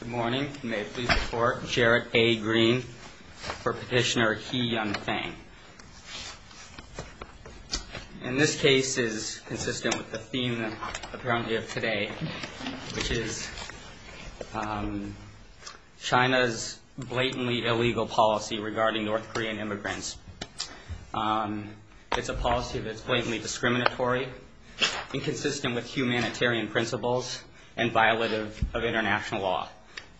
Good morning, may it please the court. Jarrett A. Green for petitioner He Yung-Fang. And this case is consistent with the theme apparently of today, which is China's blatantly illegal policy regarding North Korean immigrants. It's a policy that's blatantly discriminatory and consistent with humanitarian principles and violative of international law.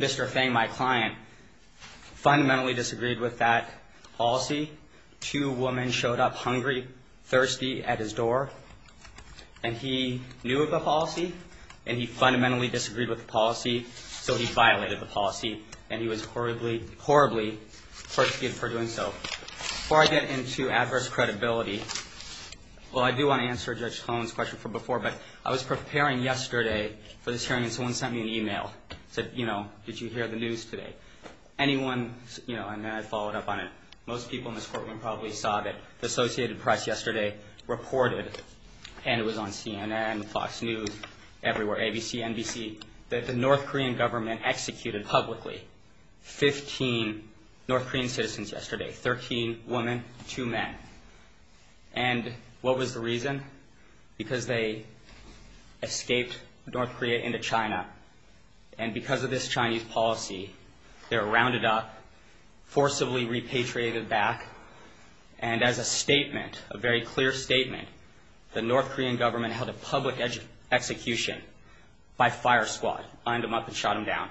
Mr. Fang, my client, fundamentally disagreed with that policy. Two women showed up hungry, thirsty at his door and he knew of the policy and he fundamentally disagreed with the policy, so he violated the policy and he was horribly, horribly persecuted for doing so. Before I get into adverse credibility, well, I do want to answer Judge Hoen's question from before, but I was preparing yesterday for this hearing and someone sent me an email, said, you know, did you hear the news today? Anyone, you know, and then I followed up on it. Most people in this courtroom probably saw that the Associated Press yesterday reported, and it was on CNN, Fox News, everywhere, ABC, NBC, that the North Korean government executed publicly 15 North Korean citizens yesterday, 13 women, two men. And what was the reason? Because they escaped North Korea into China, and because of this Chinese policy, they were rounded up, forcibly repatriated back, and as a statement, a very clear statement, the North Korean government held a public execution by fire squad, lined them up and shot them down.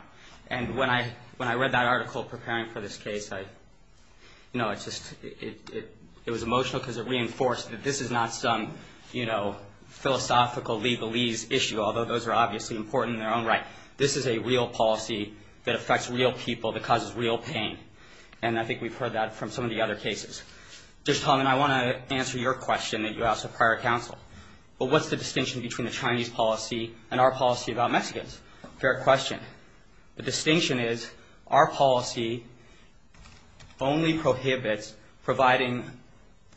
And when I read that article preparing for this case, I, you know, it just, it was emotional because it reinforced that this is not some, you know, philosophical legalese issue, although those are obviously important in their own right. This is a real policy that affects real people, that causes real pain. And I think we've heard that from some of the other cases. Judge Tong, and I want to answer your question that you asked of prior counsel. But what's the distinction between the Chinese policy and our policy about Mexicans? Fair question. The distinction is our policy only prohibits providing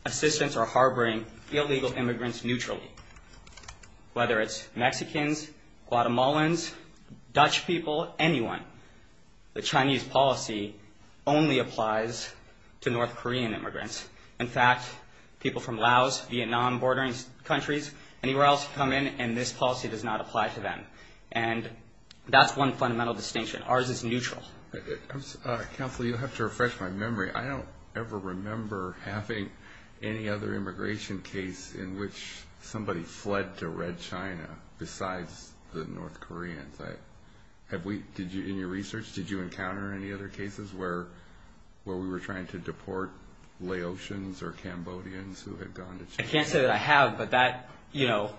assistance or harboring illegal immigrants neutrally, whether it's Mexicans, Guatemalans, Dutch people, anyone. The Chinese policy only applies to North Korean immigrants. In fact, people from Laos, Vietnam, bordering countries, anywhere else come in, and this policy does not apply to them. And that's one fundamental distinction. Ours is neutral. Counselor, you'll have to refresh my memory. I don't ever remember having any other immigration case in which somebody fled to Red China besides the North Koreans. Have we, did you, in your research, did you encounter any other cases where, where we were trying to deport Laotians or Cambodians who had gone to China? I can't say that I have, but that, you know,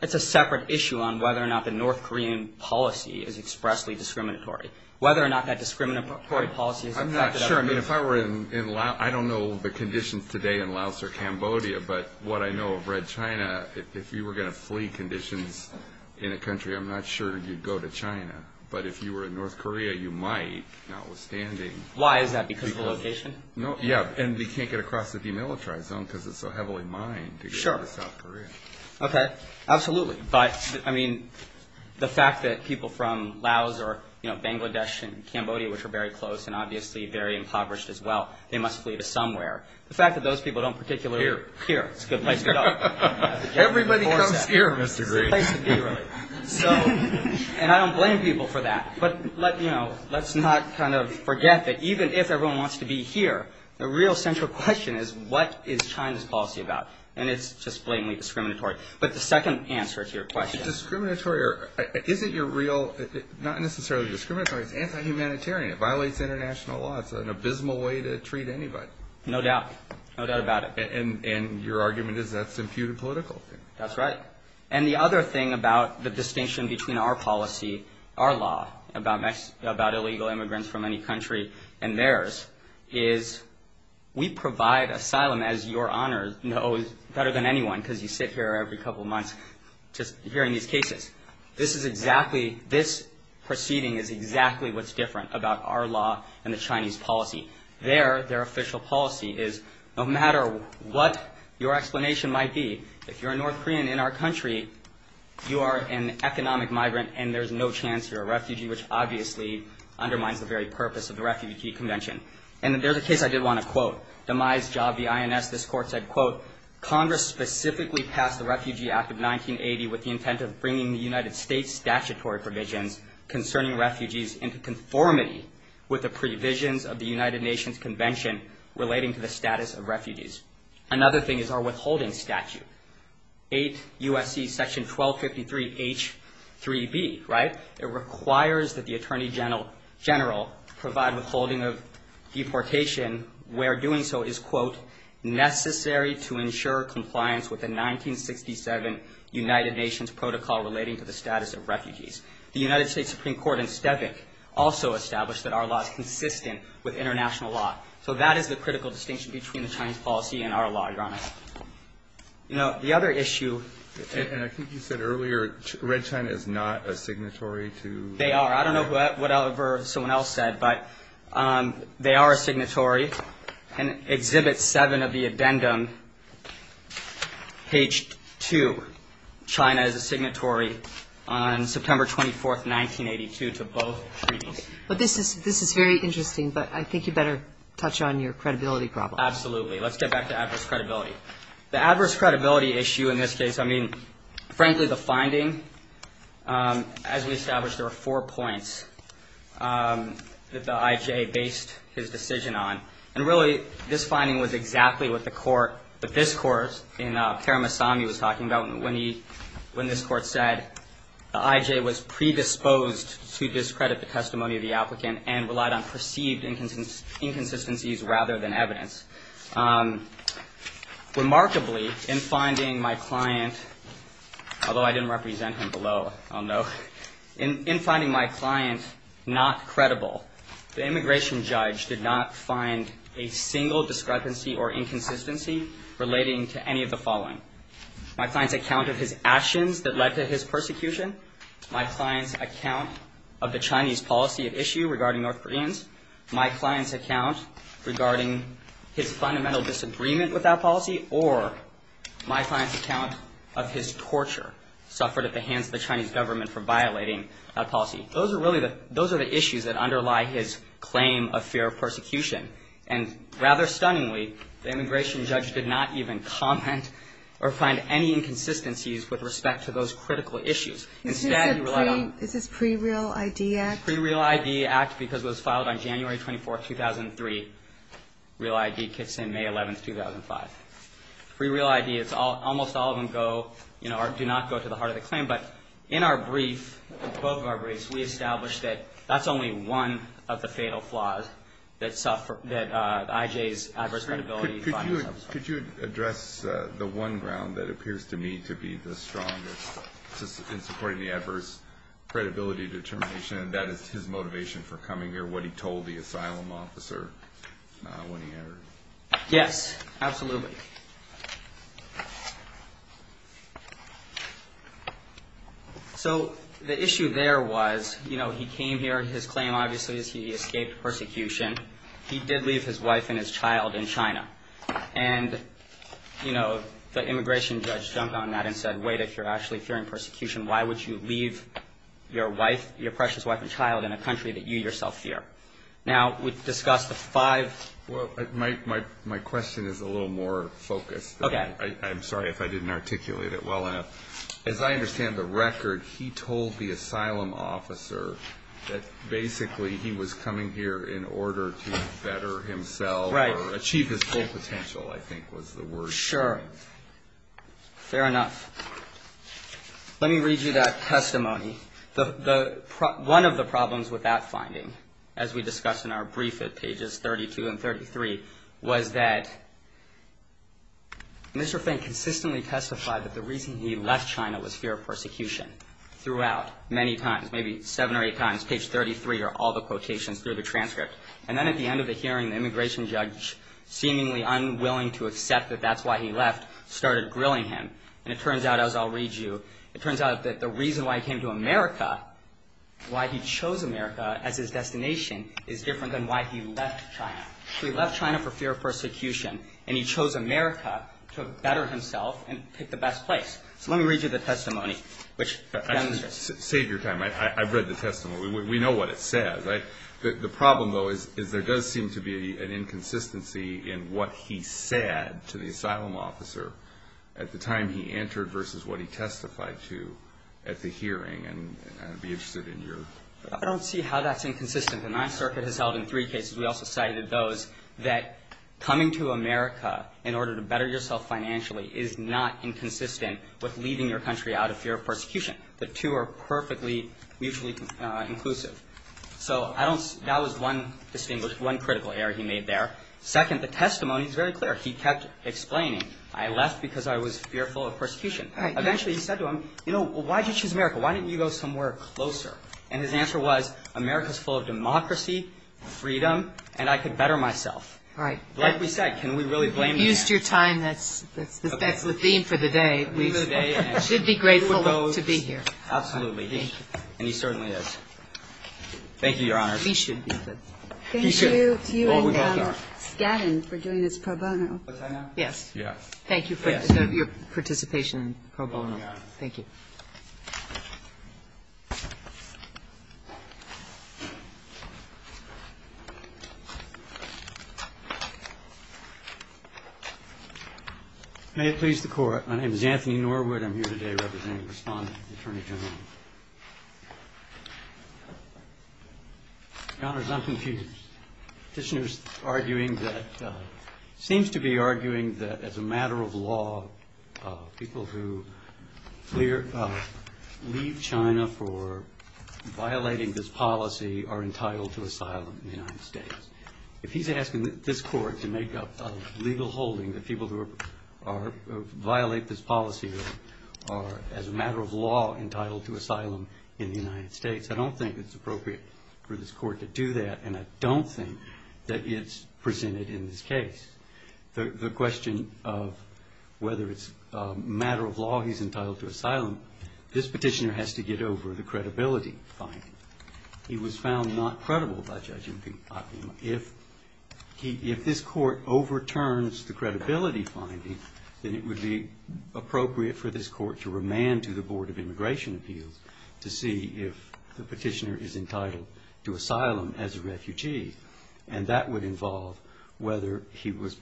it's a separate issue on whether or not the North Korean policy is expressly discriminatory, whether or not that discriminatory policy is affected. I'm not sure. I mean, if I were in Laos, I don't know the conditions today in Laos or Cambodia, but what I know of Red China, if you were going to flee conditions in a country, I'm not sure you'd go to China. But if you were in North Korea, you might, notwithstanding. Why is that? Because of the location? No. Yeah. And they can't get across the demilitarized zone because it's so heavily mined. Sure. Okay. Absolutely. But I mean, the fact that people from Laos or, you know, Bangladesh and Cambodia, which are very close and obviously very impoverished as well, they must flee to somewhere. The fact that those people don't particularly. Here. Here. It's a good place to go. Everybody comes here, Mr. Green. So, and I don't blame people for that, but let, you know, let's not kind of forget that even if everyone wants to be here, the real central question is what is China's policy about? And it's just blatantly discriminatory. But the second answer to your question. Discriminatory, or is it your real, not necessarily discriminatory, it's anti-humanitarian. It violates international law. It's an abysmal way to treat anybody. No doubt. No doubt about it. And your argument is that's imputed political. That's right. And the other thing about the distinction between our policy, our law about Mexico, about illegal immigrants from any country and theirs is we provide asylum, as your honor knows better than anyone, because you sit here every couple of months, just hearing these cases. This is exactly, this proceeding is exactly what's different about our law and the Chinese policy. Their, their official policy is no matter what your explanation might be, if you're a North Korean in our country, you are an economic migrant and there's no chance you're a refugee, which obviously undermines the very purpose of the Refugee Convention. And there's a case I did want to quote. Demise Job, the INS, this court said, quote, Congress specifically passed the Refugee Act of 1980 with the intent of bringing the United States statutory provisions concerning refugees into conformity with the provisions of the United Nations Convention relating to the status of refugees. Another thing is our withholding statute, 8 U.S.C. section 1253 H3B, right? It requires that the Attorney General provide withholding of deportation where doing so is, quote, necessary to ensure compliance with the 1967 United Nations protocol relating to the status of refugees. The United States Supreme Court in Stavik also established that our law is consistent with international law. So that is the critical distinction between the Chinese policy and our law, your honor. You know, the other issue. And I think you said earlier, Red China is not a signatory to They are. I don't know whatever someone else said, but they are a signatory. And Exhibit 7 of the addendum, page 2, China is a signatory on September 24th, 1982 to both treaties. Well, this is very interesting, but I think you better touch on your credibility problem. Absolutely. Let's get back to adverse credibility. The adverse credibility issue in this case, I mean, frankly, the finding, as we established, there were four points that the I.J. based his decision on. And really, this finding was exactly what the court, what this court in Paramasamy was talking about when he, when this court said the I.J. was predisposed to discredit the testimony of the applicant and relied on perceived inconsistencies rather than evidence. Remarkably, in finding my client, although I didn't represent him below, I'll note, in finding my client not credible, the immigration judge did not find a single discrepancy or inconsistency relating to any of the following. My client's account of his actions that led to his persecution, my client's account of the Chinese policy at issue regarding North Koreans, my client's account regarding his fundamental disagreement with that policy, or my client's account of his torture suffered at the hands of the Chinese government for violating that policy. Those are really the, those are the issues that underlie his claim of fear of persecution. And rather stunningly, the immigration judge did not even comment or find any inconsistencies with respect to those critical issues. Instead, he relied on- Is this pre-real ID act? Pre-real ID act because it was filed on January 24th, 2003. Real ID kicks in May 11th, 2005. Pre-real ID, it's almost all of them go, you know, do not go to the heart of the claim. But in our brief, both of our briefs, we established that that's only one of the fatal flaws that suffered, that I.J.'s adverse credibility- Could you address the one ground that appears to me to be the strongest in supporting the adverse credibility determination? That is his motivation for coming here, what he told the asylum officer when he entered. Yes, absolutely. So the issue there was, you know, he came here, his claim, obviously, is he escaped persecution. He did leave his wife and his child in China. And, you know, the immigration judge jumped on that and said, wait, if you're actually in persecution, why would you leave your wife, your precious wife and child in a country that you yourself fear? Now, we've discussed the five- Well, my question is a little more focused. Okay. I'm sorry if I didn't articulate it well enough. As I understand the record, he told the asylum officer that basically he was coming here in order to better himself- Right. Achieve his full potential, I think was the word. Sure. Fair enough. Let me read you that testimony. One of the problems with that finding, as we discussed in our brief at pages 32 and 33, was that Mr. Feng consistently testified that the reason he left China was fear of persecution throughout, many times, maybe seven or eight times, page 33 or all the quotations through the transcript. And then at the end of the hearing, the immigration judge, seemingly unwilling to accept that that's why he left, started grilling him. And it turns out, as I'll read you, it turns out that the reason why he came to America, why he chose America as his destination, is different than why he left China. So he left China for fear of persecution, and he chose America to better himself and pick the best place. So let me read you the testimony, which demonstrates- Save your time. I've read the testimony. We know what it says. The problem, though, is there does seem to be an inconsistency in what he said to the I don't see how that's inconsistent. The Ninth Circuit has held in three cases, we also cited those, that coming to America in order to better yourself financially is not inconsistent with leaving your country out of fear of persecution. The two are perfectly mutually inclusive. So that was one distinguished, one critical error he made there. Second, the testimony is very clear. He kept explaining, I left because I was fearful of persecution. Eventually, he said to him, you know, why did you choose America? Why didn't you go somewhere closer? And his answer was, America's full of democracy, freedom, and I could better myself. Right. Like we said, can we really blame- You've used your time. That's the theme for the day. We should be grateful to be here. Absolutely. And he certainly is. Thank you, Your Honor. We should be good. Thank you to you and Scanlon for doing this pro bono. What's that now? Yes. Yes. Thank you for your participation in pro bono. Thank you. May it please the Court. My name is Anthony Norwood. I'm here today representing the Respondent, the Attorney General. Your Honor, I'm confused. The Petitioner seems to be arguing that as a matter of law, people who leave China for violating this policy are entitled to asylum in the United States. If he's asking this Court to make up a legal holding that people who violate this policy are, as a matter of law, entitled to asylum in the United States, I don't think it's appropriate for this Court to do that, and I don't think that it's presented in this case. The question of whether it's a matter of law he's entitled to asylum, this Petitioner has to get over the credibility finding. He was found not credible by Judge Impeacock. If this Court overturns the credibility finding, then it would be appropriate for this Court to remand to the Board of Immigration Appeals to see if the Petitioner is entitled to asylum as a refugee, and that would involve whether it was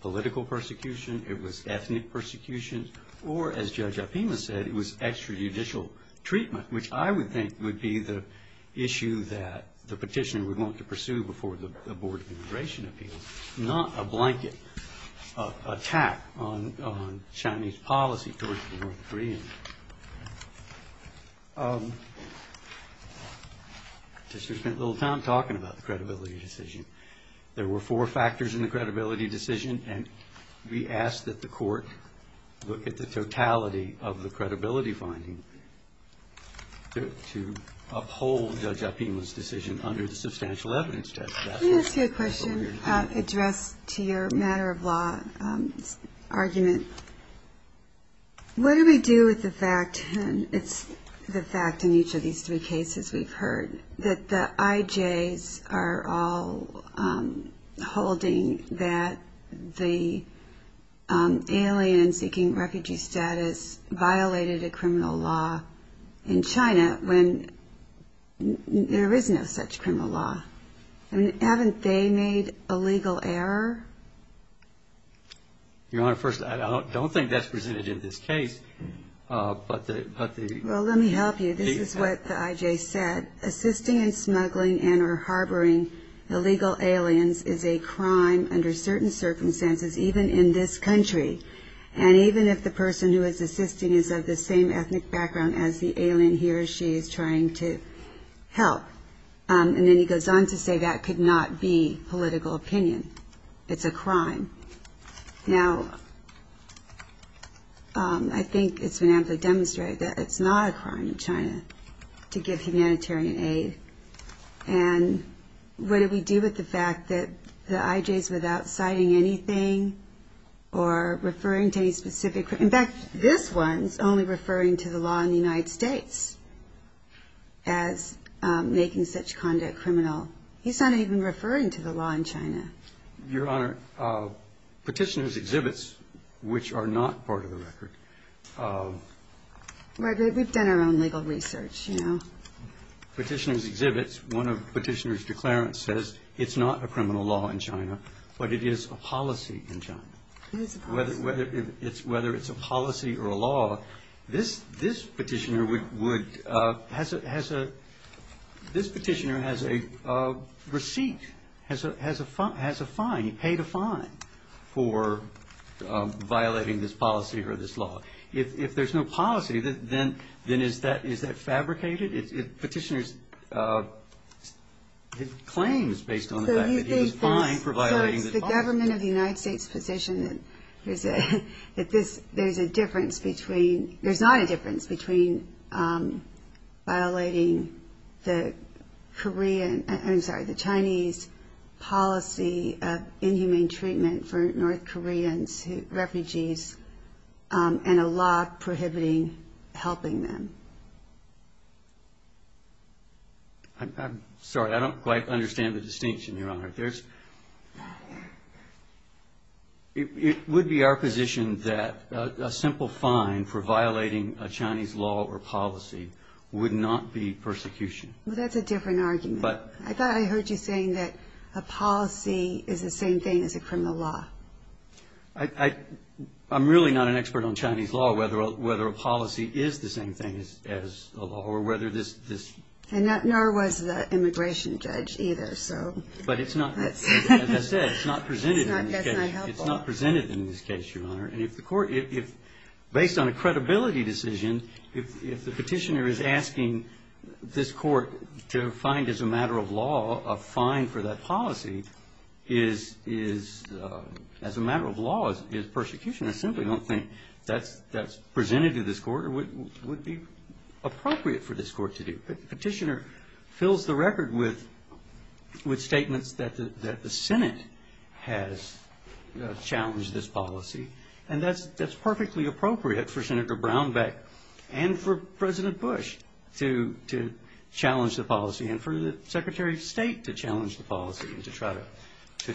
political persecution, it was ethnic persecution, or, as Judge Opima said, it was extrajudicial treatment, which I would think would be the issue that the Petitioner would want to pursue before the Board of Immigration Appeals, not a blanket attack on Chinese policy towards the North Koreans. Petitioner spent a little time talking about the credibility decision. There were four factors in the credibility decision, and we ask that the Court look at the totality of the credibility finding to uphold Judge Opima's decision under the Substantial Evidence Test. Can I ask you a question addressed to your matter of law argument? What do we do with the fact, and it's the fact in each of these three cases we've heard, that the IJs are all holding that the alien seeking refugee status violated a criminal law in China when there is no such criminal law? Haven't they made a legal error? Your Honor, first, I don't think that's presented in this case, but the... Well, let me help you. This is what the IJ said. Assisting in smuggling and or harboring illegal aliens is a crime under certain circumstances, even in this country. And even if the person who is assisting is of the same ethnic background as the alien he or she is trying to help. And then he goes on to say that could not be political opinion. It's a crime. Now, I think it's been amply demonstrated that it's not a crime in China to give humanitarian aid. And what do we do with the fact that the IJs without citing anything or referring to any specific... In fact, this one's only referring to the law in the United States as making such conduct criminal. He's not even referring to the law in China. Your Honor, petitioner's exhibits, which are not part of the record... We've done our own legal research, you know. Petitioner's exhibits, one of petitioner's declarants says it's not a criminal law in China, but it is a policy in China. Whether it's a policy or a law, this petitioner would... This petitioner has a receipt, has a fine. He paid a fine for violating this policy or this law. If there's no policy, then is that fabricated? If petitioner's claims based on the fact that he was fined for violating the policy... So it's the government of the United States' position that there's a difference between... The Korean... I'm sorry, the Chinese policy of inhumane treatment for North Koreans, refugees, and a law prohibiting helping them. I'm sorry, I don't quite understand the distinction, Your Honor. It would be our position that a simple fine for violating a Chinese law or policy would not be persecution. That's a different argument. I thought I heard you saying that a policy is the same thing as a criminal law. I'm really not an expert on Chinese law, whether a policy is the same thing as a law, or whether this... Nor was the immigration judge either, so... But it's not, as I said, it's not presented in this case, Your Honor. And if the court, based on a credibility decision, if the petitioner is asking this court to find, as a matter of law, a fine for that policy, as a matter of law, is persecution. I simply don't think that's presented to this court, or would be appropriate for this court to do. Petitioner fills the record with statements that the Senate has challenged this policy, and that's perfectly appropriate for Senator Brownback, and for President Bush, to challenge the policy, and for the Secretary of State to challenge the policy, and to try to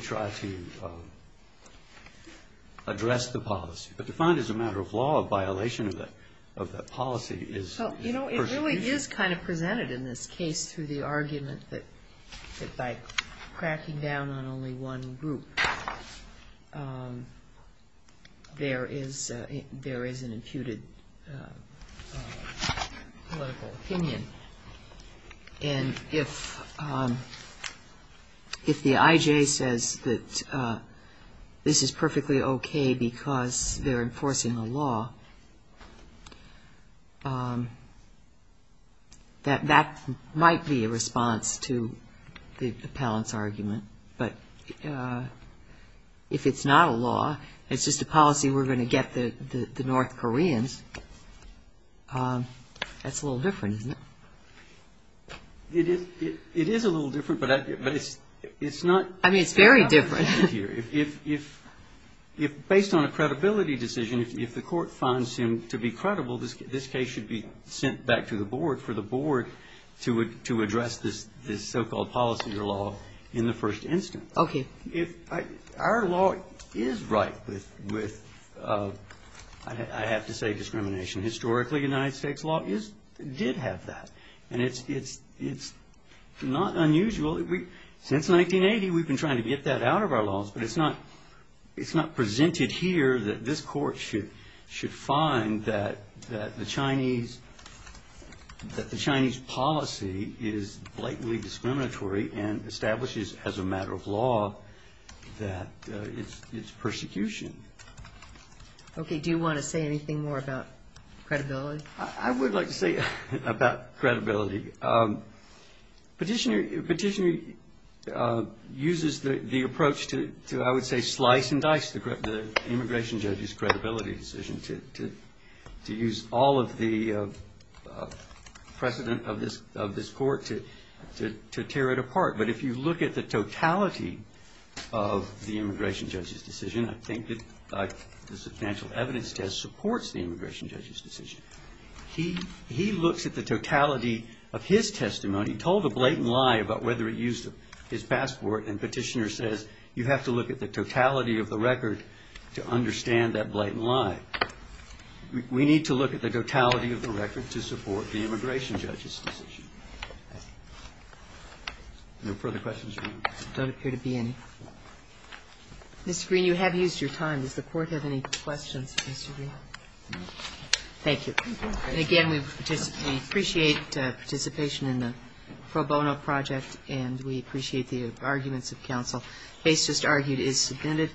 address the policy. But to find, as a matter of law, a violation of that policy is... So, you know, it really is kind of presented in this case through the argument that by tracking down on only one group, there is an imputed political opinion. And if the I.J. says that this is perfectly okay because they're enforcing a law, that might be a response to the appellant's argument. But if it's not a law, it's just a policy we're going to get the North Koreans, that's a little different, isn't it? It is a little different, but it's not... I mean, it's very different. If, based on a credibility decision, if the court finds him to be credible, this case should be sent back to the board for the board to address this so-called policy or law in the first instance. Okay. Our law is right with, I have to say, discrimination. Historically, United States law did have that. And it's not unusual. Since 1980, we've been trying to get that out of our laws, but it's not presented here that this court should find that the Chinese policy is blatantly discriminatory and establishes as a matter of law that it's persecution. Okay. Do you want to say anything more about credibility? I would like to say about credibility. Petitioner uses the approach to, I would say, slice and dice the immigration judge's credibility decision to use all of the precedent of this court to tear it apart. But if you look at the totality of the immigration judge's decision, I think that the substantial He looks at the totality of his testimony, told a blatant lie about whether it used his passport, and Petitioner says, you have to look at the totality of the record to understand that blatant lie. We need to look at the totality of the record to support the immigration judge's decision. No further questions? There don't appear to be any. Mr. Green, you have used your time. Does the court have any questions for Mr. Green? Thank you. Again, we appreciate participation in the pro bono project, and we appreciate the arguments of counsel. Case just argued is submitted.